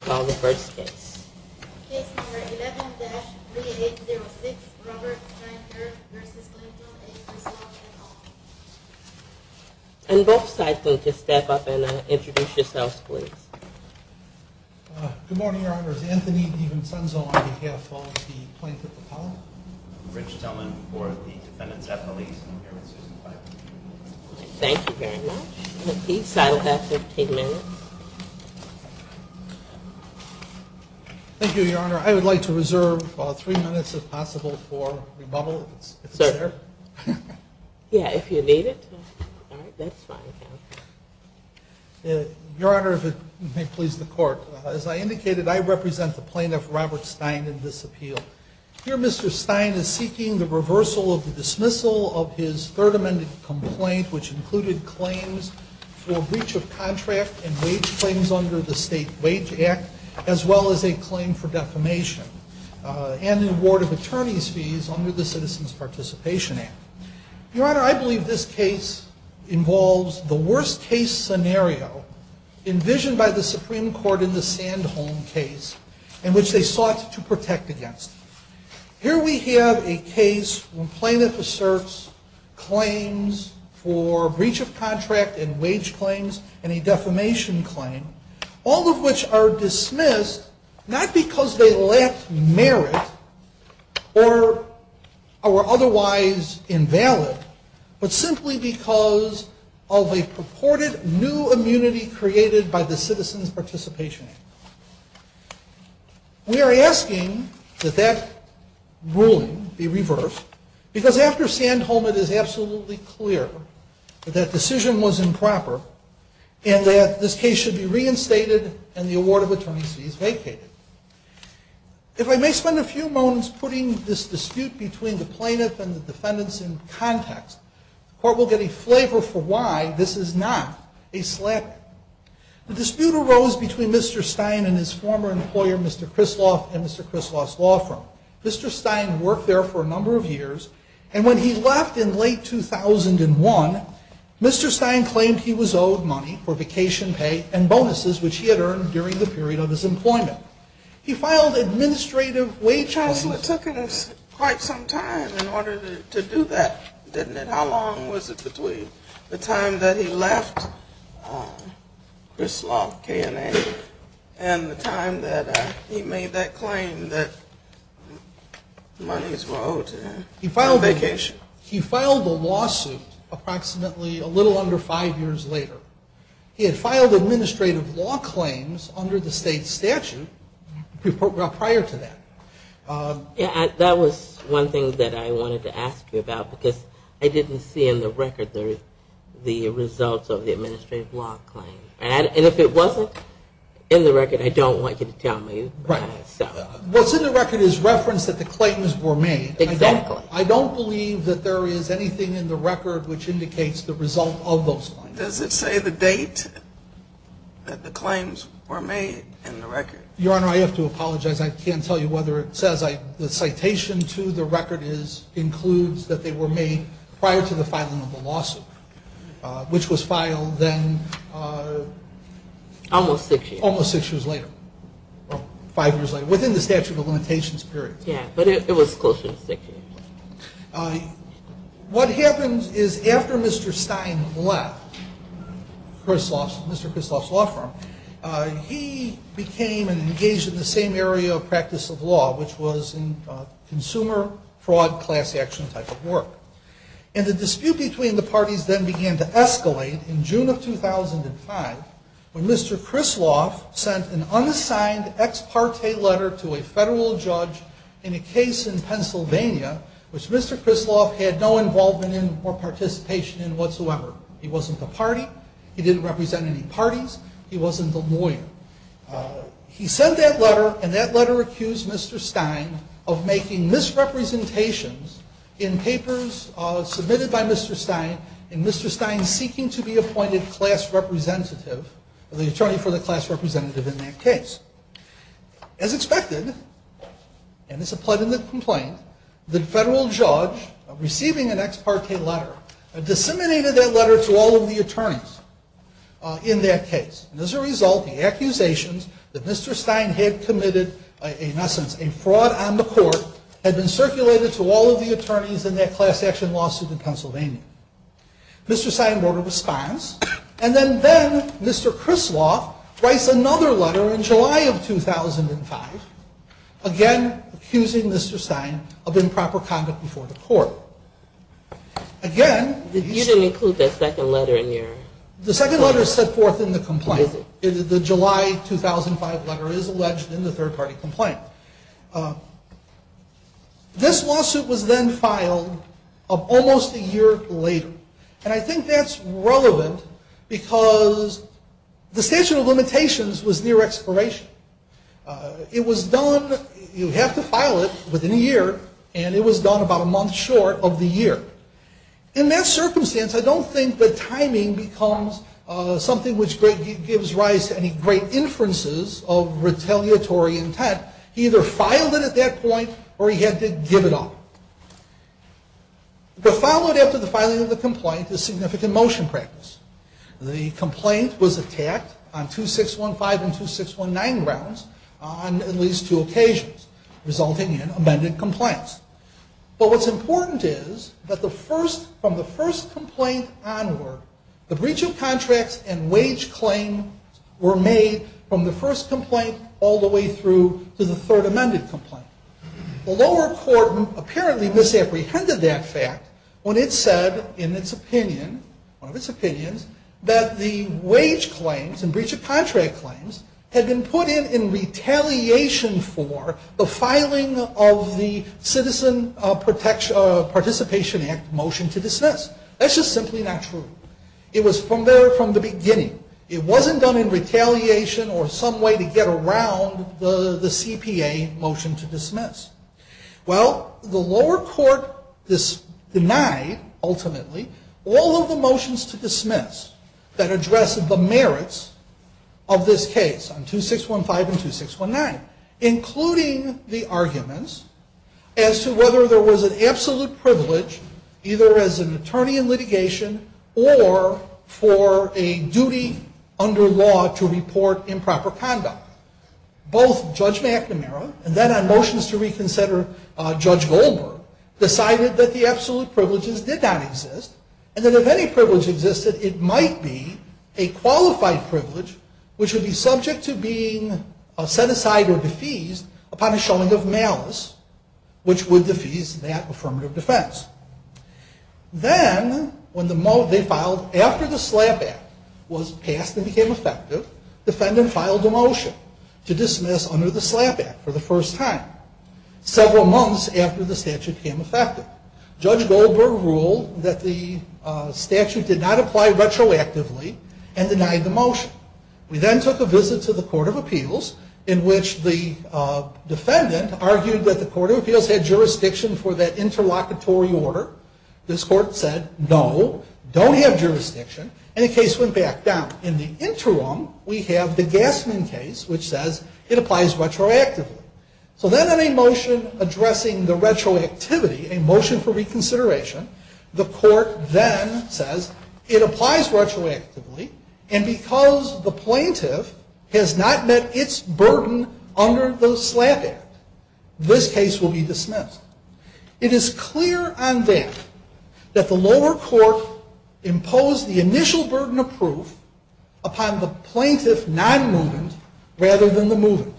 called the first case 11-3806 roberts and both sides going to step up and introduce yourselves please good morning your honor is anthony di vincenzo on behalf of the plaintiff thank you very much peace i'll have 15 minutes thank you your honor i would like to reserve three minutes if possible for rebuttal yeah if you need it all right that's fine your honor if it may please the court as i indicated i represent the plaintiff robert stein in this appeal here mr stein is seeking the reversal of the dismissal of his third amendment complaint which included claims for breach of contract and wage claims under the wage act as well as a claim for defamation and an award of attorney's fees under the citizens participation act your honor i believe this case involves the worst case scenario envisioned by the supreme court in the sandholm case in which they sought to protect against here we have a case when plaintiff asserts claims for breach of contract and wage claims and a defamation claim all of which are dismissed not because they lack merit or are otherwise invalid but simply because of a purported new immunity created by the citizens participation we are asking that that ruling be reversed because after sandholm it is absolutely clear that decision was improper and that this case should be reinstated and the award of attorney's fees vacated if i may spend a few moments putting this dispute between the plaintiff and the defendants in context the court will get a flavor for why this is not a slap the dispute arose between mr stein and his former employer mr krisloff and mr krisloff's law firm mr stein worked there for a number of years and when he left in late 2001 mr stein claimed he was owed money for vacation pay and bonuses which he had earned during the period of his employment he filed administrative wage hustle it took him quite some time in order to do that didn't it how long was it between the time that he left krisloff k and a and the time that he made that claim that money is more owed to that he filed vacation he filed the lawsuit approximately a little under five years later he had filed administrative law claims under the state statute prior to that yeah that was one thing that i wanted to ask you about because i didn't see in the record there's the results of the administrative law claim and if it wasn't in the record i don't want you to tell right what's in the record is reference that the claims were made exactly i don't believe that there is anything in the record which indicates the result of those claims does it say the date that the claims were made in the record your honor i have to apologize i can't tell you whether it says i the citation to the record is includes that they were made prior to the filing of the well five years later within the statute of limitations period yeah but it was closer to six years uh what happens is after mr stein left krisloff's mr krisloff's law firm uh he became and engaged in the same area of practice of law which was in consumer fraud class action type of work and the dispute between the parties then began to escalate in june of 2005 when mr krisloff sent an unassigned ex parte letter to a federal judge in a case in pennsylvania which mr krisloff had no involvement in or participation in whatsoever he wasn't the party he didn't represent any parties he wasn't the lawyer he sent that letter and that letter accused mr stein of making misrepresentations in papers uh submitted by mr stein and mr stein seeking to appoint a class representative the attorney for the class representative in that case as expected and this applied in the complaint the federal judge receiving an ex parte letter disseminated that letter to all of the attorneys uh in that case and as a result the accusations that mr stein had committed in essence a fraud on the court had been circulated to all of the and then then mr krisloff writes another letter in july of 2005 again accusing mr stein of improper conduct before the court again you didn't include that second letter in your the second letter is set forth in the complaint the july 2005 letter is alleged in the third party complaint uh this lawsuit was then filed almost a year later and i think that's relevant because the statute of limitations was near expiration uh it was done you have to file it within a year and it was done about a month short of the year in that circumstance i don't think that timing becomes uh something which gives rise to any great inferences of retaliatory intent he either filed it at that point or he had to give it up but followed after the filing of the the complaint was attacked on 2615 and 2619 grounds on at least two occasions resulting in amended complaints but what's important is that the first from the first complaint onward the breach of contracts and wage claim were made from the first complaint all the way through to the third amended complaint the lower court apparently misapprehended that fact when it said in its opinion one of its opinions that the wage claims and breach of contract claims had been put in in retaliation for the filing of the citizen uh protection uh participation act motion to dismiss that's just simply not true it was from there from the beginning it wasn't done in retaliation or some way to get around the the cpa motion to dismiss well the lower court this denied ultimately all of the motions to dismiss that addressed the merits of this case on 2615 and 2619 including the arguments as to whether there was an absolute privilege either as an attorney in litigation or for a duty under law to report improper conduct both judge mcnamara and then on motions to reconsider uh judge goldberg decided that the absolute privileges did not exist and that if any privilege existed it might be a qualified privilege which would be subject to being set aside or defeased upon a showing of malice which would defease that affirmative defense then when the mo they filed after the slap act was passed and became effective defendant filed a motion to dismiss under the slap act for the first time several months after the statute came effective judge goldberg ruled that the uh statute did not apply retroactively and denied the motion we then took a visit to the court of appeals in which the uh defendant argued that the court of this court said no don't have jurisdiction and the case went back down in the interim we have the gasman case which says it applies retroactively so then on a motion addressing the retroactivity a motion for reconsideration the court then says it applies retroactively and because the plaintiff has not met its burden under the slap act this case will be dismissed it is clear on that that the lower court imposed the initial burden of proof upon the plaintiff non-movement rather than the movement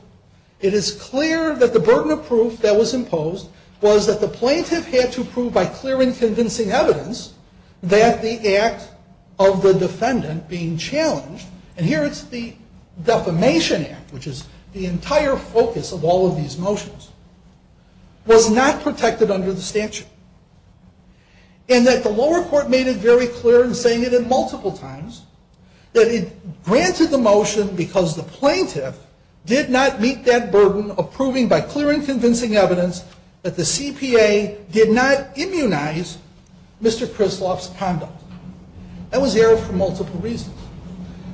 it is clear that the burden of proof that was imposed was that the plaintiff had to prove by clear and convincing evidence that the act of the defendant being challenged and here it's the defamation act which is the protected under the statute and that the lower court made it very clear in saying it in multiple times that it granted the motion because the plaintiff did not meet that burden of proving by clear and convincing evidence that the cpa did not immunize mr krisloff's conduct that was aired for multiple reasons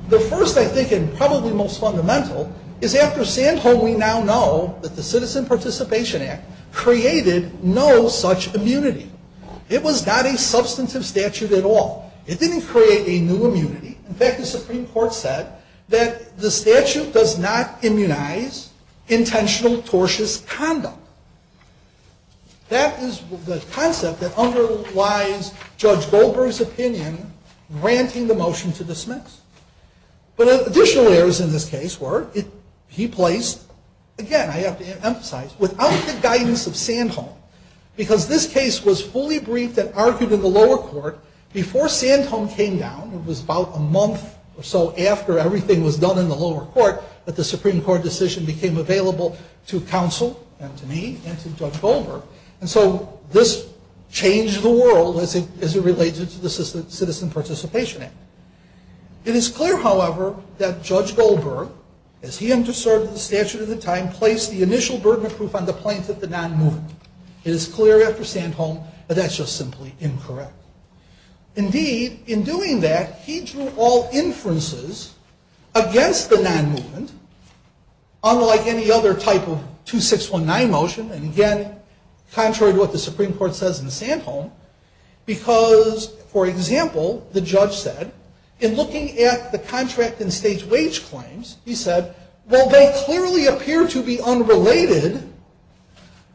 the first i think and probably most fundamental is after sandhole we now know that the citizen participation act created no such immunity it was not a substantive statute at all it didn't create a new immunity in fact the supreme court said that the statute does not immunize intentional tortious conduct that is the concept that underlies judge goldberg's opinion granting the motion to dismiss but additional errors in this case were it he placed again i have to emphasize without the guidance of sand home because this case was fully briefed and argued in the lower court before sand home came down it was about a month or so after everything was done in the lower court that the supreme court decision became available to counsel and to me and to judge goldberg and so this changed the world as it relates to the citizen citizen participation act it is clear however that judge goldberg as he underserved the statute at the time placed the initial burden of proof on the plaintiff the non movement it is clear after sand home but that's just simply incorrect indeed in doing that he drew all inferences against the non-movement unlike any other type of 2619 motion and again contrary to what the supreme court says in sand home because for example the judge said in looking at the contract and state wage claims he said well they clearly appear to be unrelated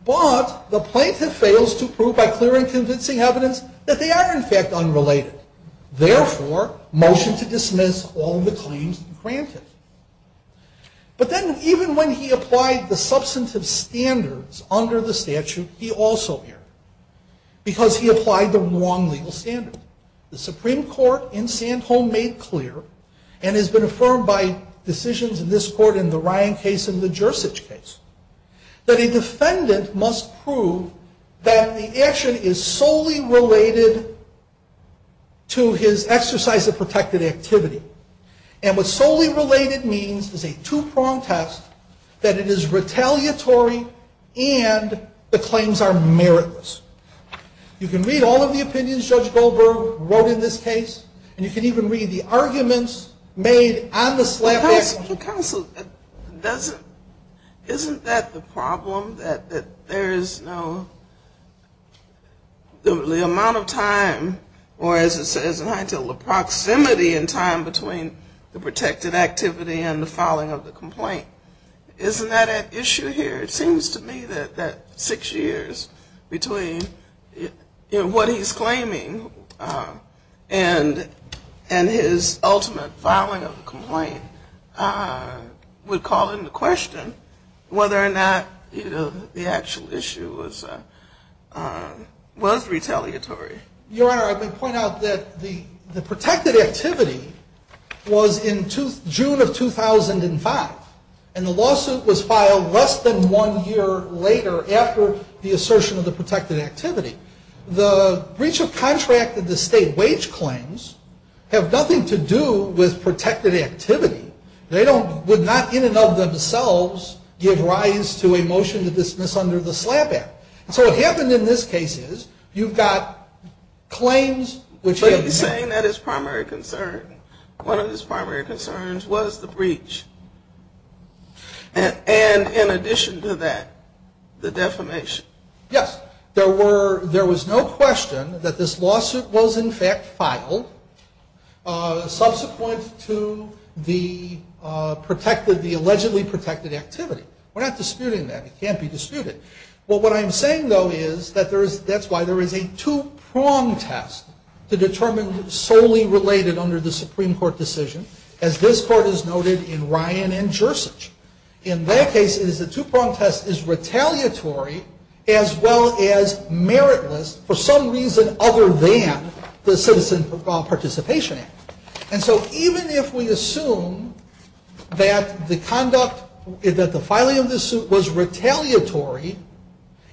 but the plaintiff fails to prove by clear and convincing evidence that they are in fact unrelated therefore motion to dismiss all the claims granted but then even when he applied the substantive standards under the statute he also here because he applied the wrong legal standard the supreme court in sand home made clear and has been affirmed by decisions in this court in the ryan case in the jersich case that a defendant must prove that the action is solely related to his exercise of protected activity and what solely related means is a two-prong test that it is retaliatory and the claims are meritless you can read all of the opinions judge goldberg wrote in this case and you can even read the arguments made on the slab council doesn't isn't that the problem that that there is no the amount of time or as it says in high proximity in time between the protected activity and the filing of the complaint isn't that an issue here it seems to me that that six years between you know what he's claiming and and his ultimate filing of the complaint uh would call into question whether or not the actual issue was uh was retaliatory your honor i may point out that the the protected activity was in two june of 2005 and the lawsuit was filed less than one year later after the assertion of the protected activity the breach of contract of the state wage claims have nothing to do with protected activity they don't would not in and of themselves give rise to a motion to dismiss under the slap act so what happened in this case is you've got claims which he's saying that his primary concern one of his primary concerns was the breach and and in addition to that the defamation yes there were there was no question that this lawsuit was in fact filed uh subsequent to the uh protected the allegedly protected activity we're not disputing that it can't be disputed well what i'm saying though is that there's that's why there is a two-prong test to determine solely related under the supreme court decision as this court has noted in ryan and jersic in that case it is a two-prong test is retaliatory as well as meritless for some reason other than the citizen participation act and so even if we assume that the conduct that the filing of this suit was retaliatory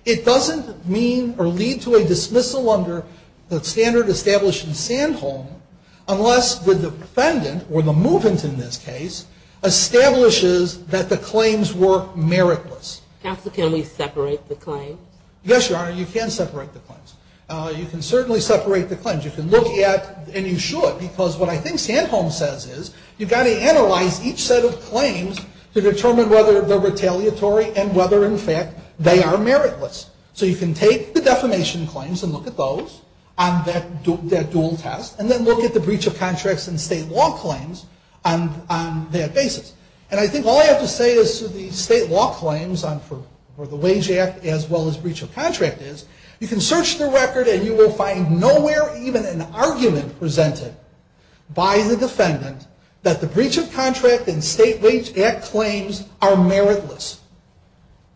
it doesn't mean or lead to a dismissal under the standard established in sandholm unless the defendant or the movement in this case establishes that the claims were meritless counsel can we separate the claims yes your honor you can separate the claims you can certainly separate the claims you can look at and you should because what i think sandholm says is you've got to analyze each set of claims to determine whether they're retaliatory and whether in fact they are meritless so you can take the defamation claims and look at those on that that dual test and then look at the breach of contracts and state law claims on on that basis and i think all i have to say is the state law claims on for for the wage act as well as breach of contract is you can search the record and you will find nowhere even an argument presented by the defendant that the breach of contract and state wage act claims are meritless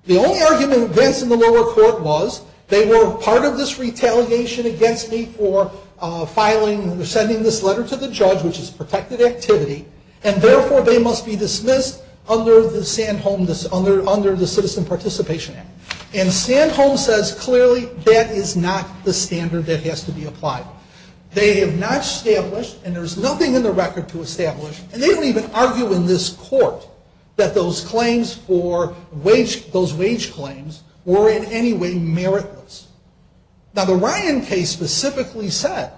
the only argument against in the lower court was they were part of this retaliation against me for uh filing sending this letter to the judge which is protected activity and therefore they must be dismissed under the sandholm this under under the citizen participation act and sandholm says clearly that is not the standard that has to be applied they have not established and there's nothing in the record to establish and they don't even argue in this court that those claims for wage those wage claims were in any way meritless now the ryan case specifically said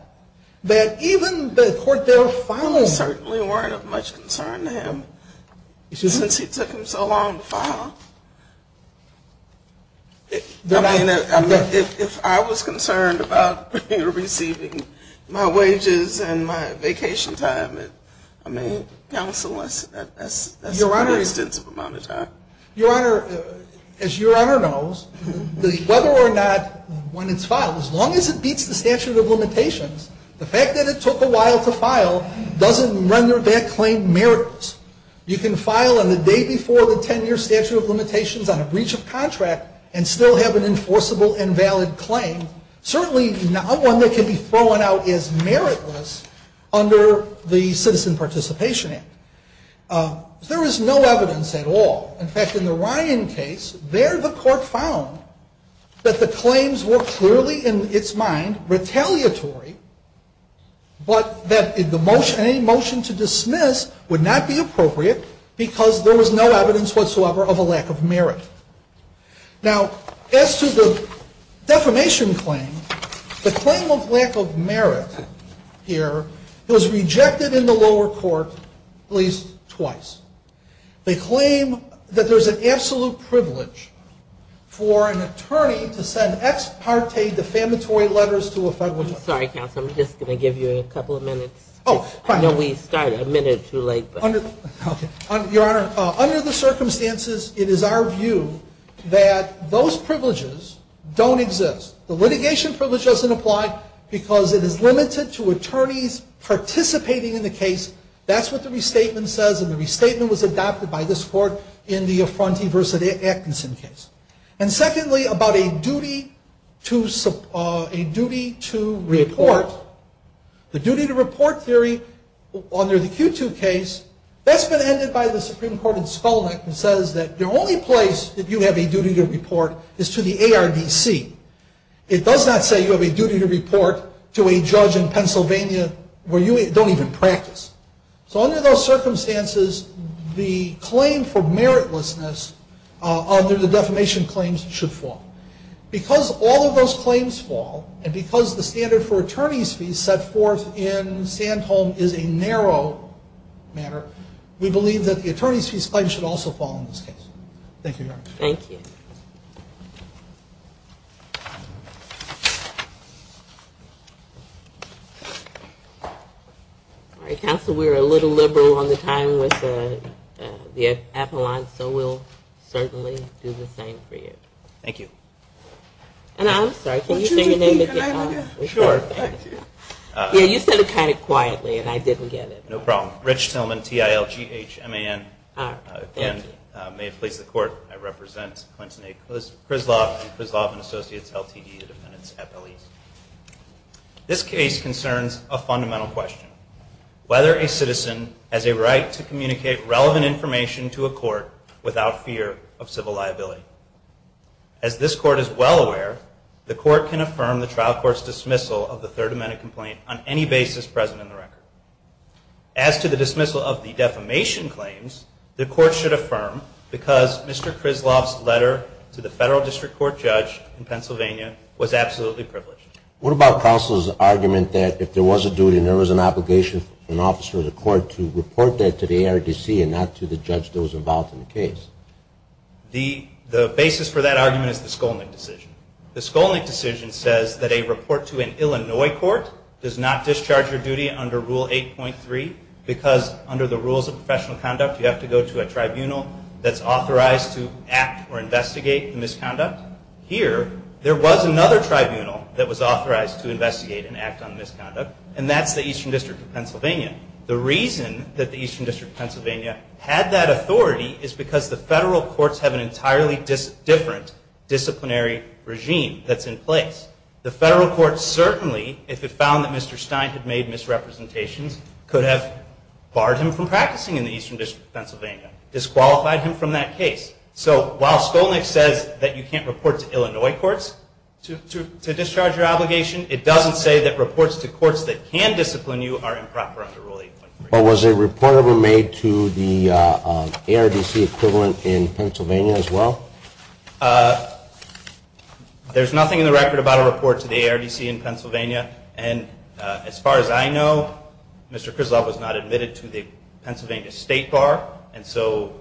that even the court they were following certainly weren't of much concern to him since he took him so long to file then i mean if i was concerned about you receiving my wages and my vacation time and i mean counsel that's a very extensive amount of time your honor as your honor knows whether or not when it's filed as long as it beats the statute of limitations the fact that it took a while to file doesn't render that claim meritless you can file on the day before the 10-year statute of limitations on a breach of contract and still have an enforceable and valid claim certainly not one that can be thrown out as meritless under the citizen participation uh there is no evidence at all in fact in the ryan case there the court found that the claims were clearly in its mind retaliatory but that in the motion any motion to dismiss would not be appropriate because there was no evidence whatsoever of a lack of merit now as to the defamation claim the claim of lack of merit here was rejected in the lower court at least twice they claim that there's an absolute privilege for an attorney to send ex parte defamatory letters to a federal sorry counsel i'm just going to give you a couple of minutes oh i know we started a minute too late under your honor under the circumstances it is our view that those privileges don't exist the litigation privilege doesn't apply because it is limited to attorneys participating in the case that's what the restatement says and the restatement was adopted by this court in the affrontee versus actinson case and secondly about a duty to uh a duty to report the duty to report theory under the q2 case that's been ended by the supreme court in spelman and says that the only place that you have a duty to report is to the judge in pennsylvania where you don't even practice so under those circumstances the claim for meritlessness uh under the defamation claims should fall because all of those claims fall and because the standard for attorneys fees set forth in sandholm is a narrow matter we believe that the all right counsel we were a little liberal on the time with the appellant so we'll certainly do the same for you thank you and i'm sorry can you say your name again sure yeah you said it kind of quietly and i didn't get it no problem rich tillman t-i-l-g-h-m-a-n may have placed the court i a fundamental question whether a citizen has a right to communicate relevant information to a court without fear of civil liability as this court is well aware the court can affirm the trial court's dismissal of the third amendment complaint on any basis present in the record as to the dismissal of the defamation claims the court should affirm because mr krisloff's letter to the federal district court judge in pennsylvania was absolutely privileged what about counsel's argument that if there was a duty there was an obligation an officer of the court to report that to the ardc and not to the judge that was involved in the case the the basis for that argument is the skolnick decision the skolnick decision says that a report to an illinois court does not discharge your duty under rule 8.3 because under the rules of professional conduct you have to go to a tribunal that's authorized to act or investigate the here there was another tribunal that was authorized to investigate and act on misconduct and that's the eastern district of pennsylvania the reason that the eastern district pennsylvania had that authority is because the federal courts have an entirely different disciplinary regime that's in place the federal court certainly if it found that mr stein had made misrepresentations could have barred him from practicing in the eastern district pennsylvania disqualified him so while skolnick says that you can't report to illinois courts to to discharge your obligation it doesn't say that reports to courts that can discipline you are improper under rule 8.3 but was a report ever made to the ardc equivalent in pennsylvania as well there's nothing in the record about a report to the ardc in pennsylvania and as far as i know mr krislov was not admitted to the pennsylvania state bar and so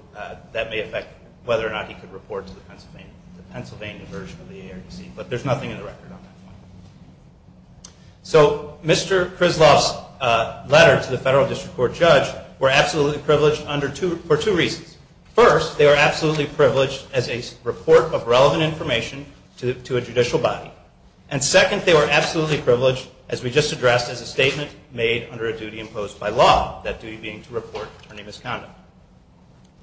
that may affect whether or not he could report to the pennsylvania the pennsylvania version of the ardc but there's nothing in the record on that one so mr krislov's uh letter to the federal district court judge were absolutely privileged under two for two reasons first they were absolutely privileged as a report of relevant information to a judicial body and second they were absolutely privileged as we just addressed as a statement made under a duty imposed by law that duty being to report attorney misconduct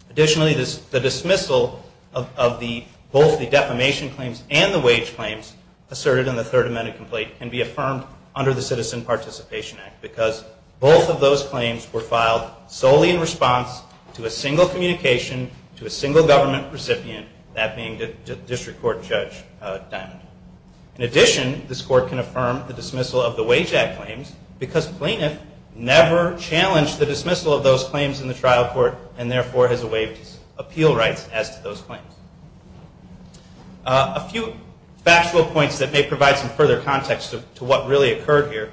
additionally this the dismissal of of the both the defamation claims and the wage claims asserted in the third amended complaint can be affirmed under the citizen participation act because both of those claims were filed solely in response to a single communication to a single government recipient that being the district court judge uh diamond in addition this court can because plaintiff never challenged the dismissal of those claims in the trial court and therefore has waived appeal rights as to those claims a few factual points that may provide some further context to what really occurred here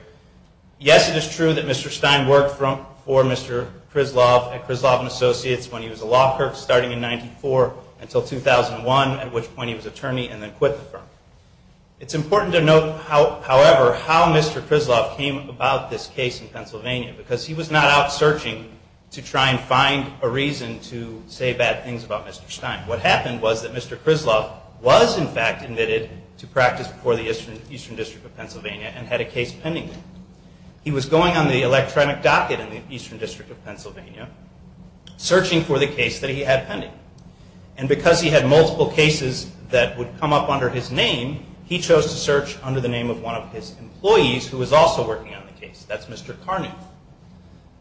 yes it is true that mr stein worked from for mr krislov at krislov and associates when he was a law clerk starting in 94 until 2001 at which point he was about this case in pennsylvania because he was not out searching to try and find a reason to say bad things about mr stein what happened was that mr krislov was in fact admitted to practice before the eastern eastern district of pennsylvania and had a case pending he was going on the electronic docket in the eastern district of pennsylvania searching for the case that he had pending and because he had multiple cases that would come up under his name he chose to search under the name of one of his employees who was also working on the case that's mr karnuth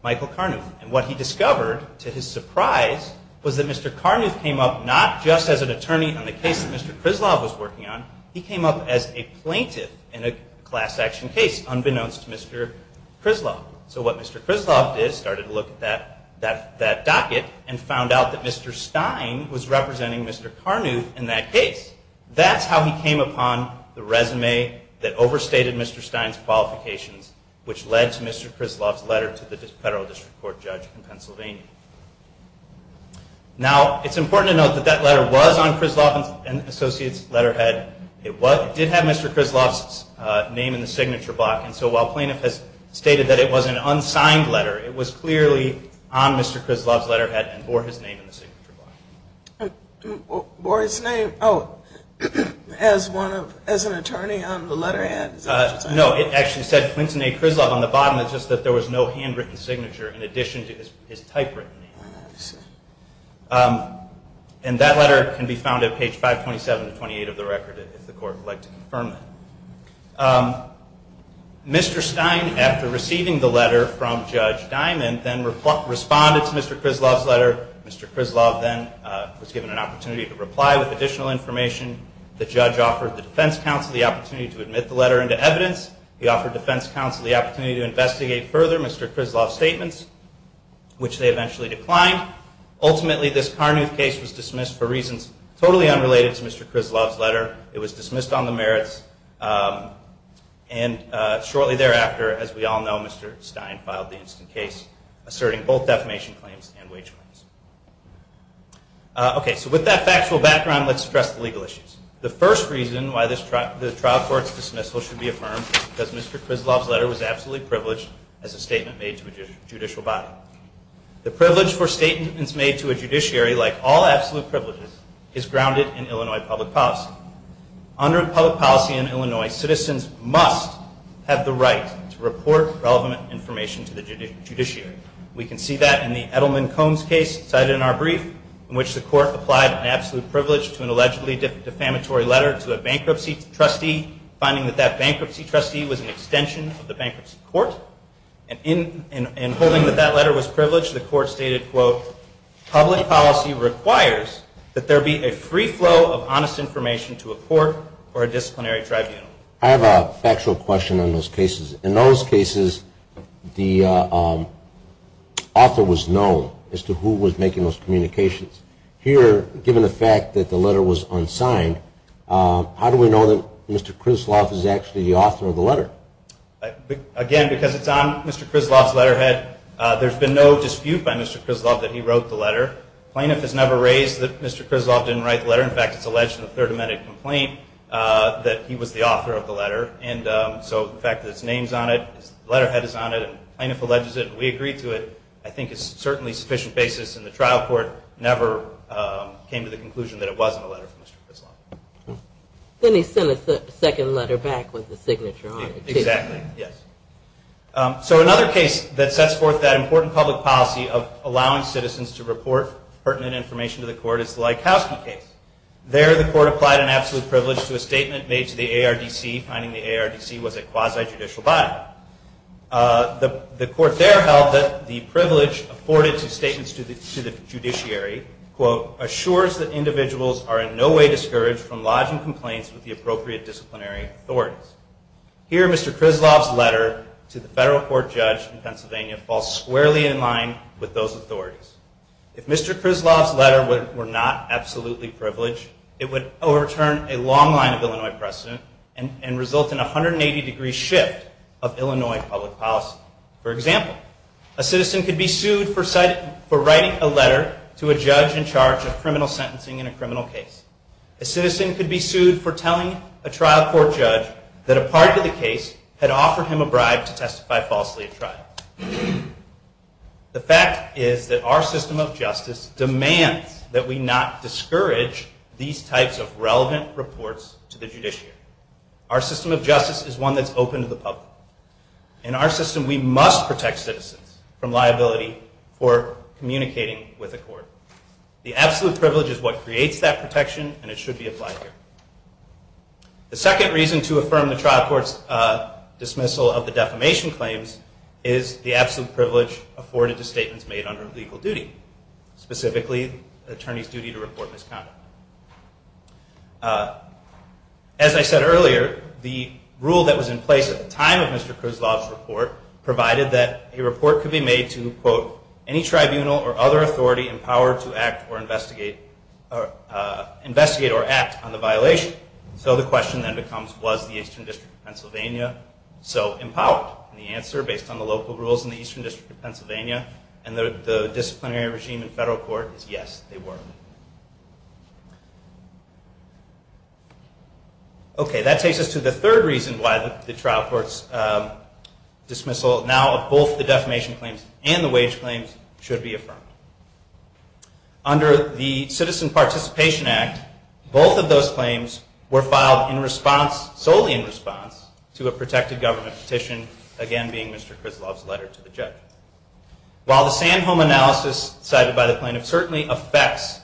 michael karnuth and what he discovered to his surprise was that mr karnuth came up not just as an attorney on the case that mr krislov was working on he came up as a plaintiff in a class action case unbeknownst to mr krislov so what mr krislov did started to look at that that that docket and found out that mr stein was representing mr karnuth in that case that's how he came upon the resume that overstated mr stein's qualifications which led to mr krislov's letter to the federal district court judge in pennsylvania now it's important to note that that letter was on krislov and associates letterhead it was it did have mr krislov's uh name in the signature block and so while plaintiff has stated that it was an unsigned letter it was clearly on mr krislov's letterhead signature board's name oh as one of as an attorney on the letterhead uh no it actually said clinton a krislov on the bottom it's just that there was no handwritten signature in addition to his typewritten name and that letter can be found at page 5 27 28 of the record if the court would like to confirm that um mr stein after receiving the letter from judge diamond then responded to mr krislov's letter mr krislov then was given an opportunity to reply with additional information the judge offered the defense counsel the opportunity to admit the letter into evidence he offered defense counsel the opportunity to investigate further mr krislov statements which they eventually declined ultimately this karnuth case was dismissed for reasons totally unrelated to mr krislov's letter it was dismissed on the merits um and shortly thereafter as we all know mr stein filed the instant case asserting both defamation claims and wage claims okay so with that factual background let's address the legal issues the first reason why this trial the trial court's dismissal should be affirmed because mr krislov's letter was absolutely privileged as a statement made to a judicial body the privilege for statements made to a judiciary like all absolute privileges is grounded in illinois public policy under public policy in illinois citizens must have the right to report relevant information to the judiciary we can see that in the edelman combs case cited in our brief in which the court applied an absolute privilege to an allegedly defamatory letter to a bankruptcy trustee finding that that bankruptcy trustee was an extension of the bankruptcy court and in and holding that that letter was privileged the court stated quote public policy requires that there be a free flow of honest information to a court or a disciplinary tribunal i have a factual question on those cases in those cases the um author was known as to who was making those communications here given the fact that the letter was unsigned uh how do we know that mr krislov is actually the author of the letter again because it's on mr krislov's letterhead uh there's been no dispute by mr krislov that he wrote the letter plaintiff has never raised that mr krislov didn't write the letter in fact it's uh that he was the author of the letter and um so the fact that his name's on it his letterhead is on it and plaintiff alleges it and we agree to it i think is certainly sufficient basis and the trial court never um came to the conclusion that it wasn't a letter from mr krislov then he sent a second letter back with the signature on it exactly yes um so another case that sets forth that important public policy of allowing citizens to report pertinent information to the court is the laikowski case there the court applied an absolute privilege to a statement made to the ardc finding the ardc was a quasi-judicial body uh the the court there held that the privilege afforded to statements to the to the judiciary quote assures that individuals are in no way discouraged from lodging complaints with the appropriate disciplinary authorities here mr krislov's letter to the federal court judge in pennsylvania falls squarely in line with those authorities if mr krislov's letter were not absolutely privileged it would overturn a long line of illinois precedent and and result in 180 degree shift of illinois public policy for example a citizen could be sued for citing for writing a letter to a judge in charge of criminal sentencing in a criminal case a citizen could be sued for telling a trial court judge that a part of the case had offered him a bribe to testify falsely at trial the fact is that our system of justice demands that we not discourage these types of relevant reports to the judiciary our system of justice is one that's open to the public in our system we must protect citizens from liability for communicating with a court the absolute privilege is what creates that protection and it should be applied here the second reason to affirm the trial court's uh dismissal of the defamation claims is the absolute privilege afforded to statements made under legal duty specifically attorney's duty to report misconduct as i said earlier the rule that was in place at the time of mr krislov's report provided that a report could be made to quote any tribunal or other authority in power to act or investigate or uh investigate or act on the violation so the question then becomes was the eastern district of pennsylvania so empowered and the answer based on the local rules in the eastern district of pennsylvania and the the disciplinary regime in federal court is yes they were okay that takes us to the third reason why the trial court's uh dismissal now of both the under the citizen participation act both of those claims were filed in response solely in response to a protected government petition again being mr krislov's letter to the judge while the sand home analysis cited by the plaintiff certainly affects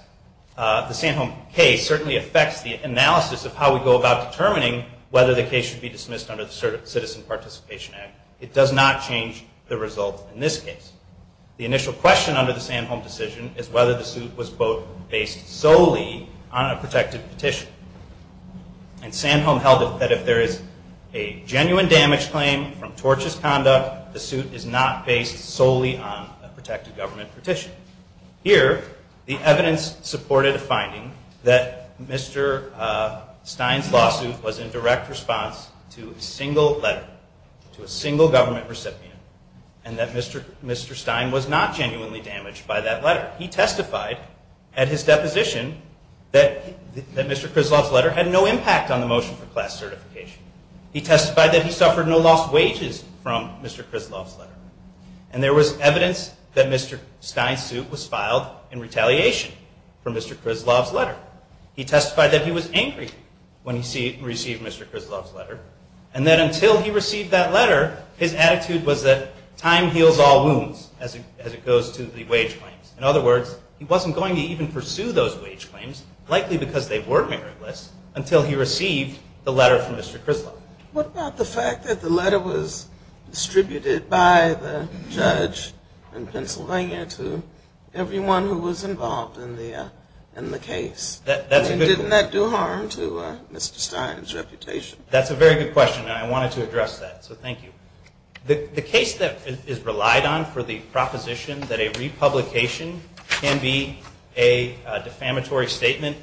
uh the sand home case certainly affects the analysis of how we go about determining whether the case should be dismissed under the citizen participation act it does not change the result in this case the initial question under the sand home decision is whether the suit was both based solely on a protected petition and sand home held it that if there is a genuine damage claim from tortious conduct the suit is not based solely on a protected government petition here the evidence supported a finding that mr uh stein's lawsuit was in direct response to a single letter to a single government recipient and that mr mr stein was not genuinely damaged by that letter he testified at his deposition that that mr krislov's letter had no impact on the motion for class certification he testified that he suffered no lost wages from mr krislov's letter and there was evidence that mr stein's suit was filed in retaliation for mr krislov's letter he testified that he was angry when he received mr krislov's letter and that until he received that letter his attitude was that time heals all wounds as it as it goes to the wage claims in other words he wasn't going to even pursue those wage claims likely because they were meritless until he received the letter from mr krislov what about the fact that the letter was distributed by the judge in pennsylvania to everyone who was involved in the uh in the case that didn't that do harm to uh mr stein's reputation that's a very good question and i wanted to address that so thank you the the case that is relied on for the proposition that a republication can be a defamatory statement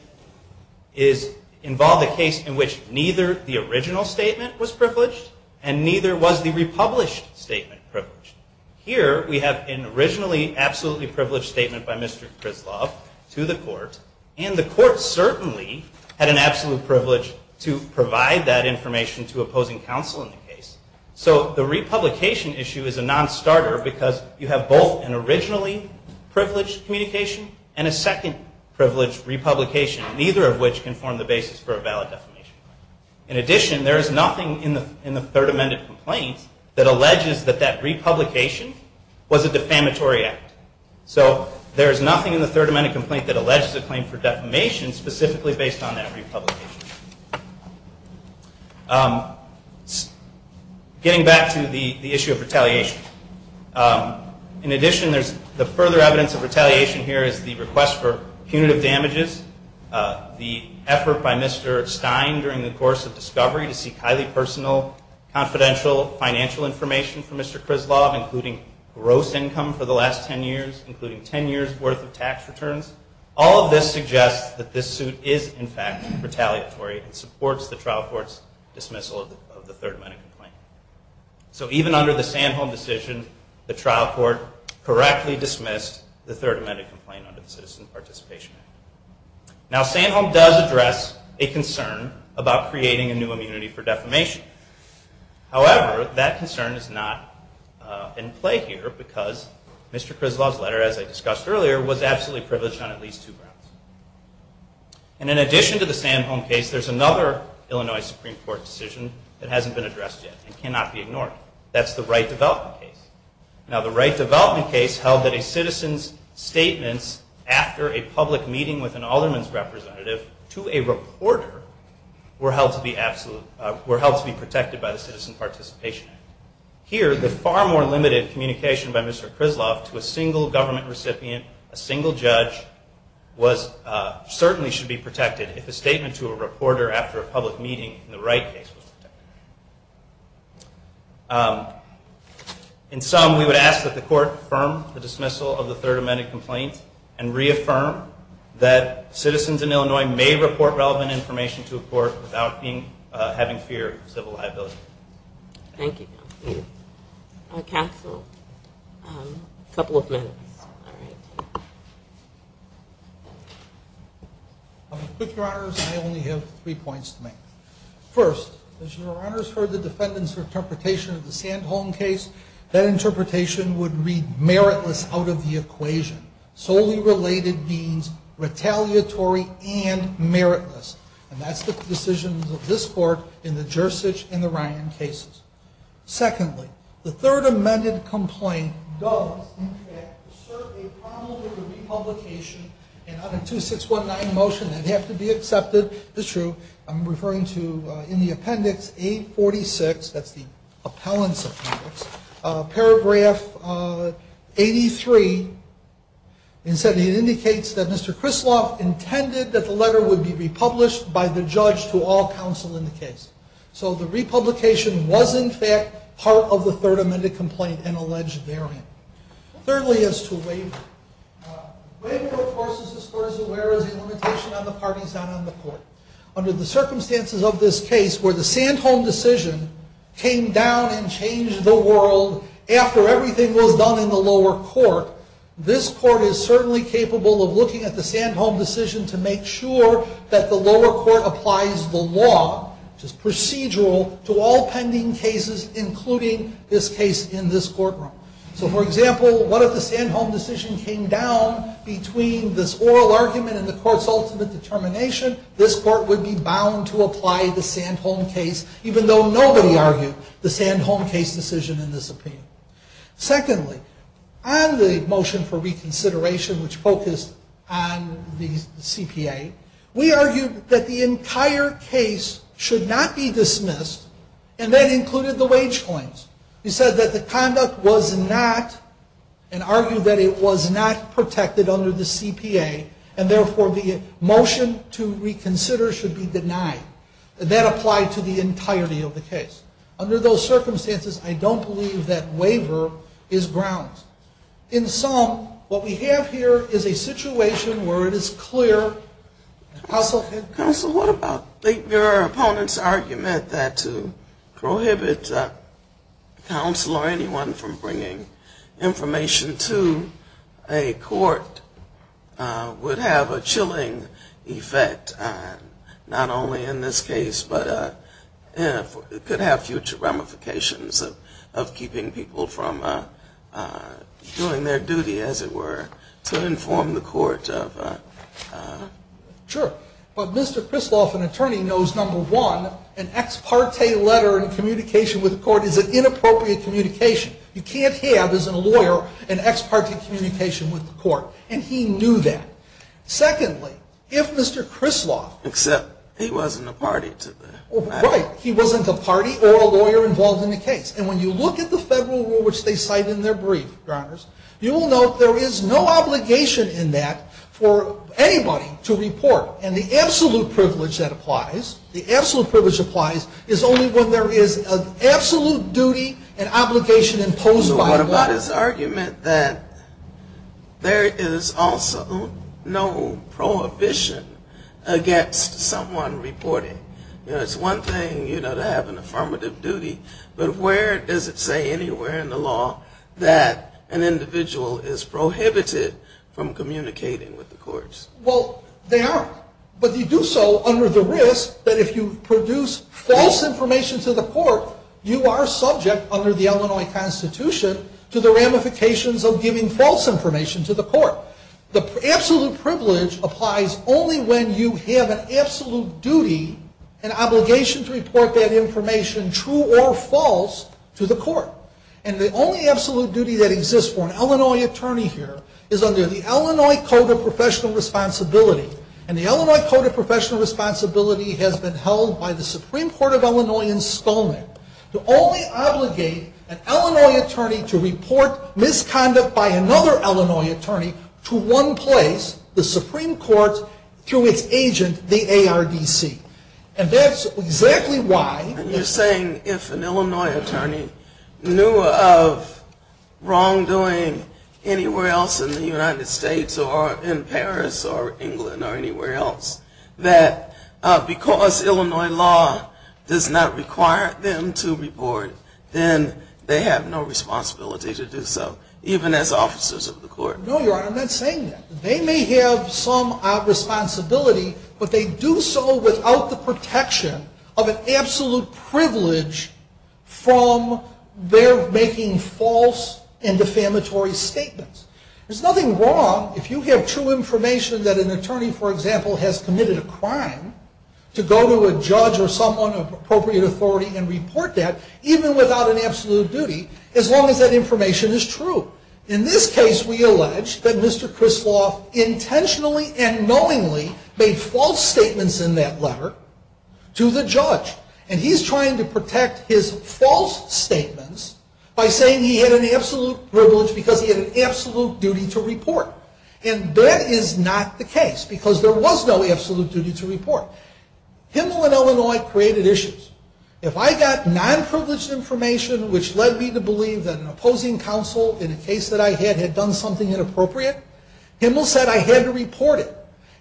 is involve the case in which neither the original statement was privileged and neither was the republished statement privileged here we have an originally absolutely privileged statement by mr krislov to the court and the court certainly had an absolute privilege to provide that information to opposing counsel in the case so the republication issue is a non-starter because you have both an originally privileged communication and a second privileged republication neither of which can form the basis for a valid defamation claim in addition there is nothing in in the third amended complaint that alleges that that republication was a defamatory act so there is nothing in the third amended complaint that alleges a claim for defamation specifically based on that republication um getting back to the the issue of retaliation um in addition there's the further evidence of retaliation here is the request for punitive damages uh the effort by mr stein during the course of discovery to seek highly personal confidential financial information for mr krislov including gross income for the last 10 years including 10 years worth of tax returns all of this suggests that this suit is in fact retaliatory and supports the trial court's dismissal of the third amendment complaint so even under the sandholm decision the trial court correctly dismissed the third amendment complaint under the citizen participation act now sandholm does address a concern about creating a new immunity for defamation however that concern is not in play here because mr krislov's letter as i discussed earlier was absolutely privileged on at least two grounds and in addition to the sandholm case there's another illinois supreme court decision that hasn't been addressed yet and cannot be ignored that's the right development case now the right development case held that a citizen's after a public meeting with an alderman's representative to a reporter were held to be absolute were held to be protected by the citizen participation act here the far more limited communication by mr krislov to a single government recipient a single judge was uh certainly should be protected if a statement to a reporter after a public meeting in the right case okay um in sum we would ask that the court firm the dismissal of the third amendment complaint and reaffirm that citizens in illinois may report relevant information to a court without being having fear of civil liability thank you a castle a couple of minutes all right i'll be quick your honors i only have three points to make first as your honors heard the defendants for interpretation of the sandholm case that interpretation would read meritless out of the equation solely related means retaliatory and meritless and that's the decisions of this court in the jersich and the ryan cases secondly the third amended complaint does in fact serve a probable republication and not a 2619 motion that have to be accepted it's true i'm referring to in the appendix 846 that's the appellant's appendix paragraph uh 83 and said it indicates that mr krislov intended that the letter would be republished by the judge to all counsel in the case so the republication was in fact part of the third amended complaint and alleged variant thirdly as to waiver waiver of course is as far as aware as a limitation on the parties not on the court under the circumstances of this case where the sandholm decision came down and changed the world after everything was done in the lower court this court is certainly capable of looking at the sandholm decision to make sure that the lower court applies the law which is so for example what if the sandholm decision came down between this oral argument and the court's ultimate determination this court would be bound to apply the sandholm case even though nobody argued the sandholm case decision in this opinion secondly on the motion for reconsideration which focused on the cpa we argued that the entire case should not be dismissed and that included the wage coins he said that the conduct was not and argued that it was not protected under the cpa and therefore the motion to reconsider should be denied that applied to the entirety of the case under those circumstances i don't believe that waiver is grounds in some what we have here is a situation where it is clear also council what about your opponent's argument that to prohibit council or anyone from bringing information to a court would have a chilling effect not only in this case but uh if it could have future ramifications of of keeping people from uh doing their duty as it were to inform the court of uh sure but mr krisloff an attorney knows number one an ex parte letter and communication with the court is an inappropriate communication you can't have as a lawyer an ex parte communication with the court and he knew that secondly if mr krisloff except he wasn't a party to the right he wasn't a party or a lawyer involved in the case and when you look at the federal rule which they cite in their brief governors you will note there is no obligation in that for anybody to report and the absolute privilege that applies the absolute privilege applies is only when there is an absolute duty and obligation imposed by what about his argument that there is also no prohibition against someone you know it's one thing you know to have an affirmative duty but where does it say anywhere in the law that an individual is prohibited from communicating with the courts well they aren't but you do so under the risk that if you produce false information to the court you are subject under the illinois constitution to the ramifications of giving false information to the court the absolute duty and obligation to report that information true or false to the court and the only absolute duty that exists for an illinois attorney here is under the illinois code of professional responsibility and the illinois code of professional responsibility has been held by the supreme court of illinois in skull neck to only obligate an illinois attorney to report misconduct by another illinois attorney to one place the supreme court through its agent the ardc and that's exactly why you're saying if an illinois attorney knew of wrongdoing anywhere else in the united states or in paris or england or anywhere else that because illinois law does require them to report then they have no responsibility to do so even as officers of the court no your honor i'm not saying that they may have some uh responsibility but they do so without the protection of an absolute privilege from their making false and defamatory statements there's nothing wrong if you have true information that an attorney for example has committed a crime to go to a judge or someone of appropriate authority and report that even without an absolute duty as long as that information is true in this case we allege that mr krisloff intentionally and knowingly made false statements in that letter to the judge and he's trying to protect his false statements by saying he had an absolute privilege because he had an absolute duty to report and that is not the case because there was no absolute duty to report him in illinois created issues if i got non-privileged information which led me to believe that an opposing counsel in a case that i had had done something inappropriate himil said i had to report it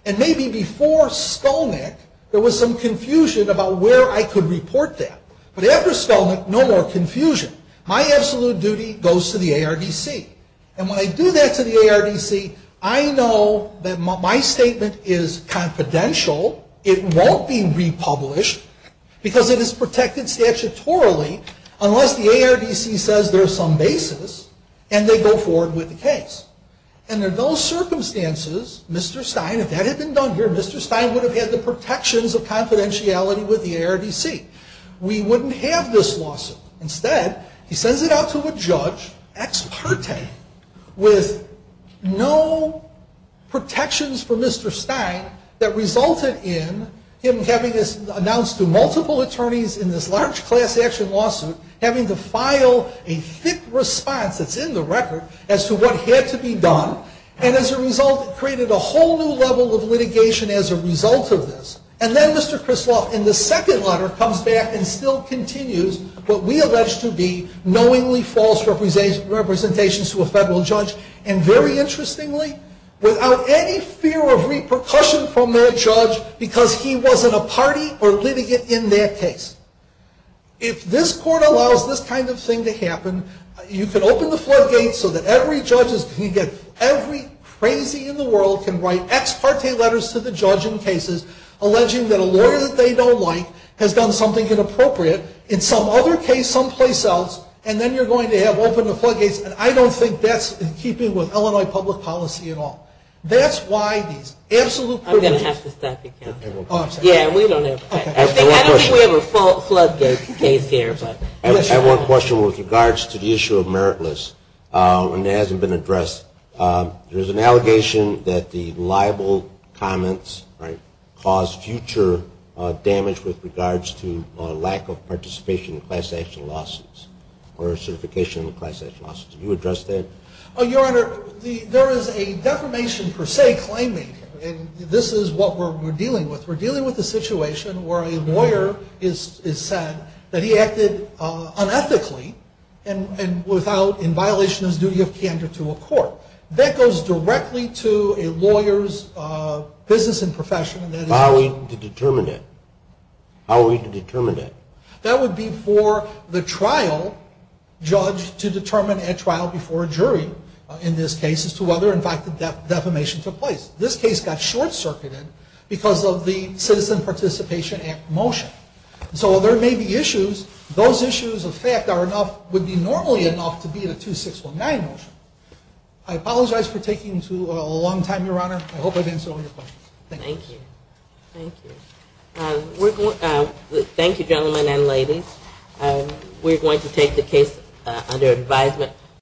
and maybe before skull neck there was some confusion about where i could report that but after spell no more confusion my absolute duty goes to the arbc and when i do that to the arbc i know that my statement is confidential it won't be republished because it is protected statutorily unless the arbc says there's some basis and they go forward with the case and in those circumstances mr stein if that had been done here mr stein would have had the protections of lawsuit instead he sends it out to a judge ex parte with no protections for mr stein that resulted in him having this announced to multiple attorneys in this large class action lawsuit having to file a thick response that's in the record as to what had to be done and as a result it created a whole new level of litigation as a result of this and then mr krisloff in the second letter comes back and still continues what we allege to be knowingly false representation representations to a federal judge and very interestingly without any fear of repercussion from their judge because he wasn't a party or litigant in their case if this court allows this kind of thing to happen you could open the floodgates so that every judge is you get every crazy in the world can write ex parte letters to the judge in cases alleging that a lawyer that they don't like has done something inappropriate in some other case someplace else and then you're going to have open the floodgates and i don't think that's in keeping with illinois public policy at all that's why these absolute one question with regards to the issue of meritless uh and it hasn't been addressed um there's an allegation that the libel comments right cause future uh damage with regards to a lack of participation in class action lawsuits or certification class action lawsuits you address that oh your honor the there is a defamation per se claiming and this is what we're dealing with we're dealing with a situation where a lawyer is is said that he acted uh unethically and and without in violation of his duty of candor to a court that goes directly to a lawyer's uh business and profession how are we to determine it how are we to determine it that would be for the trial judge to determine a trial before a jury in this case as to whether in fact the defamation took place this case got short-circuited because of the citizen participation act motion so there may be issues those issues of fact are enough would be normally enough to be in a 2619 motion i apologize for taking too a long time your honor i hope i've answered all your questions thank you thank you um we're going um thank you gentlemen and ladies um we're going to take the case under advisement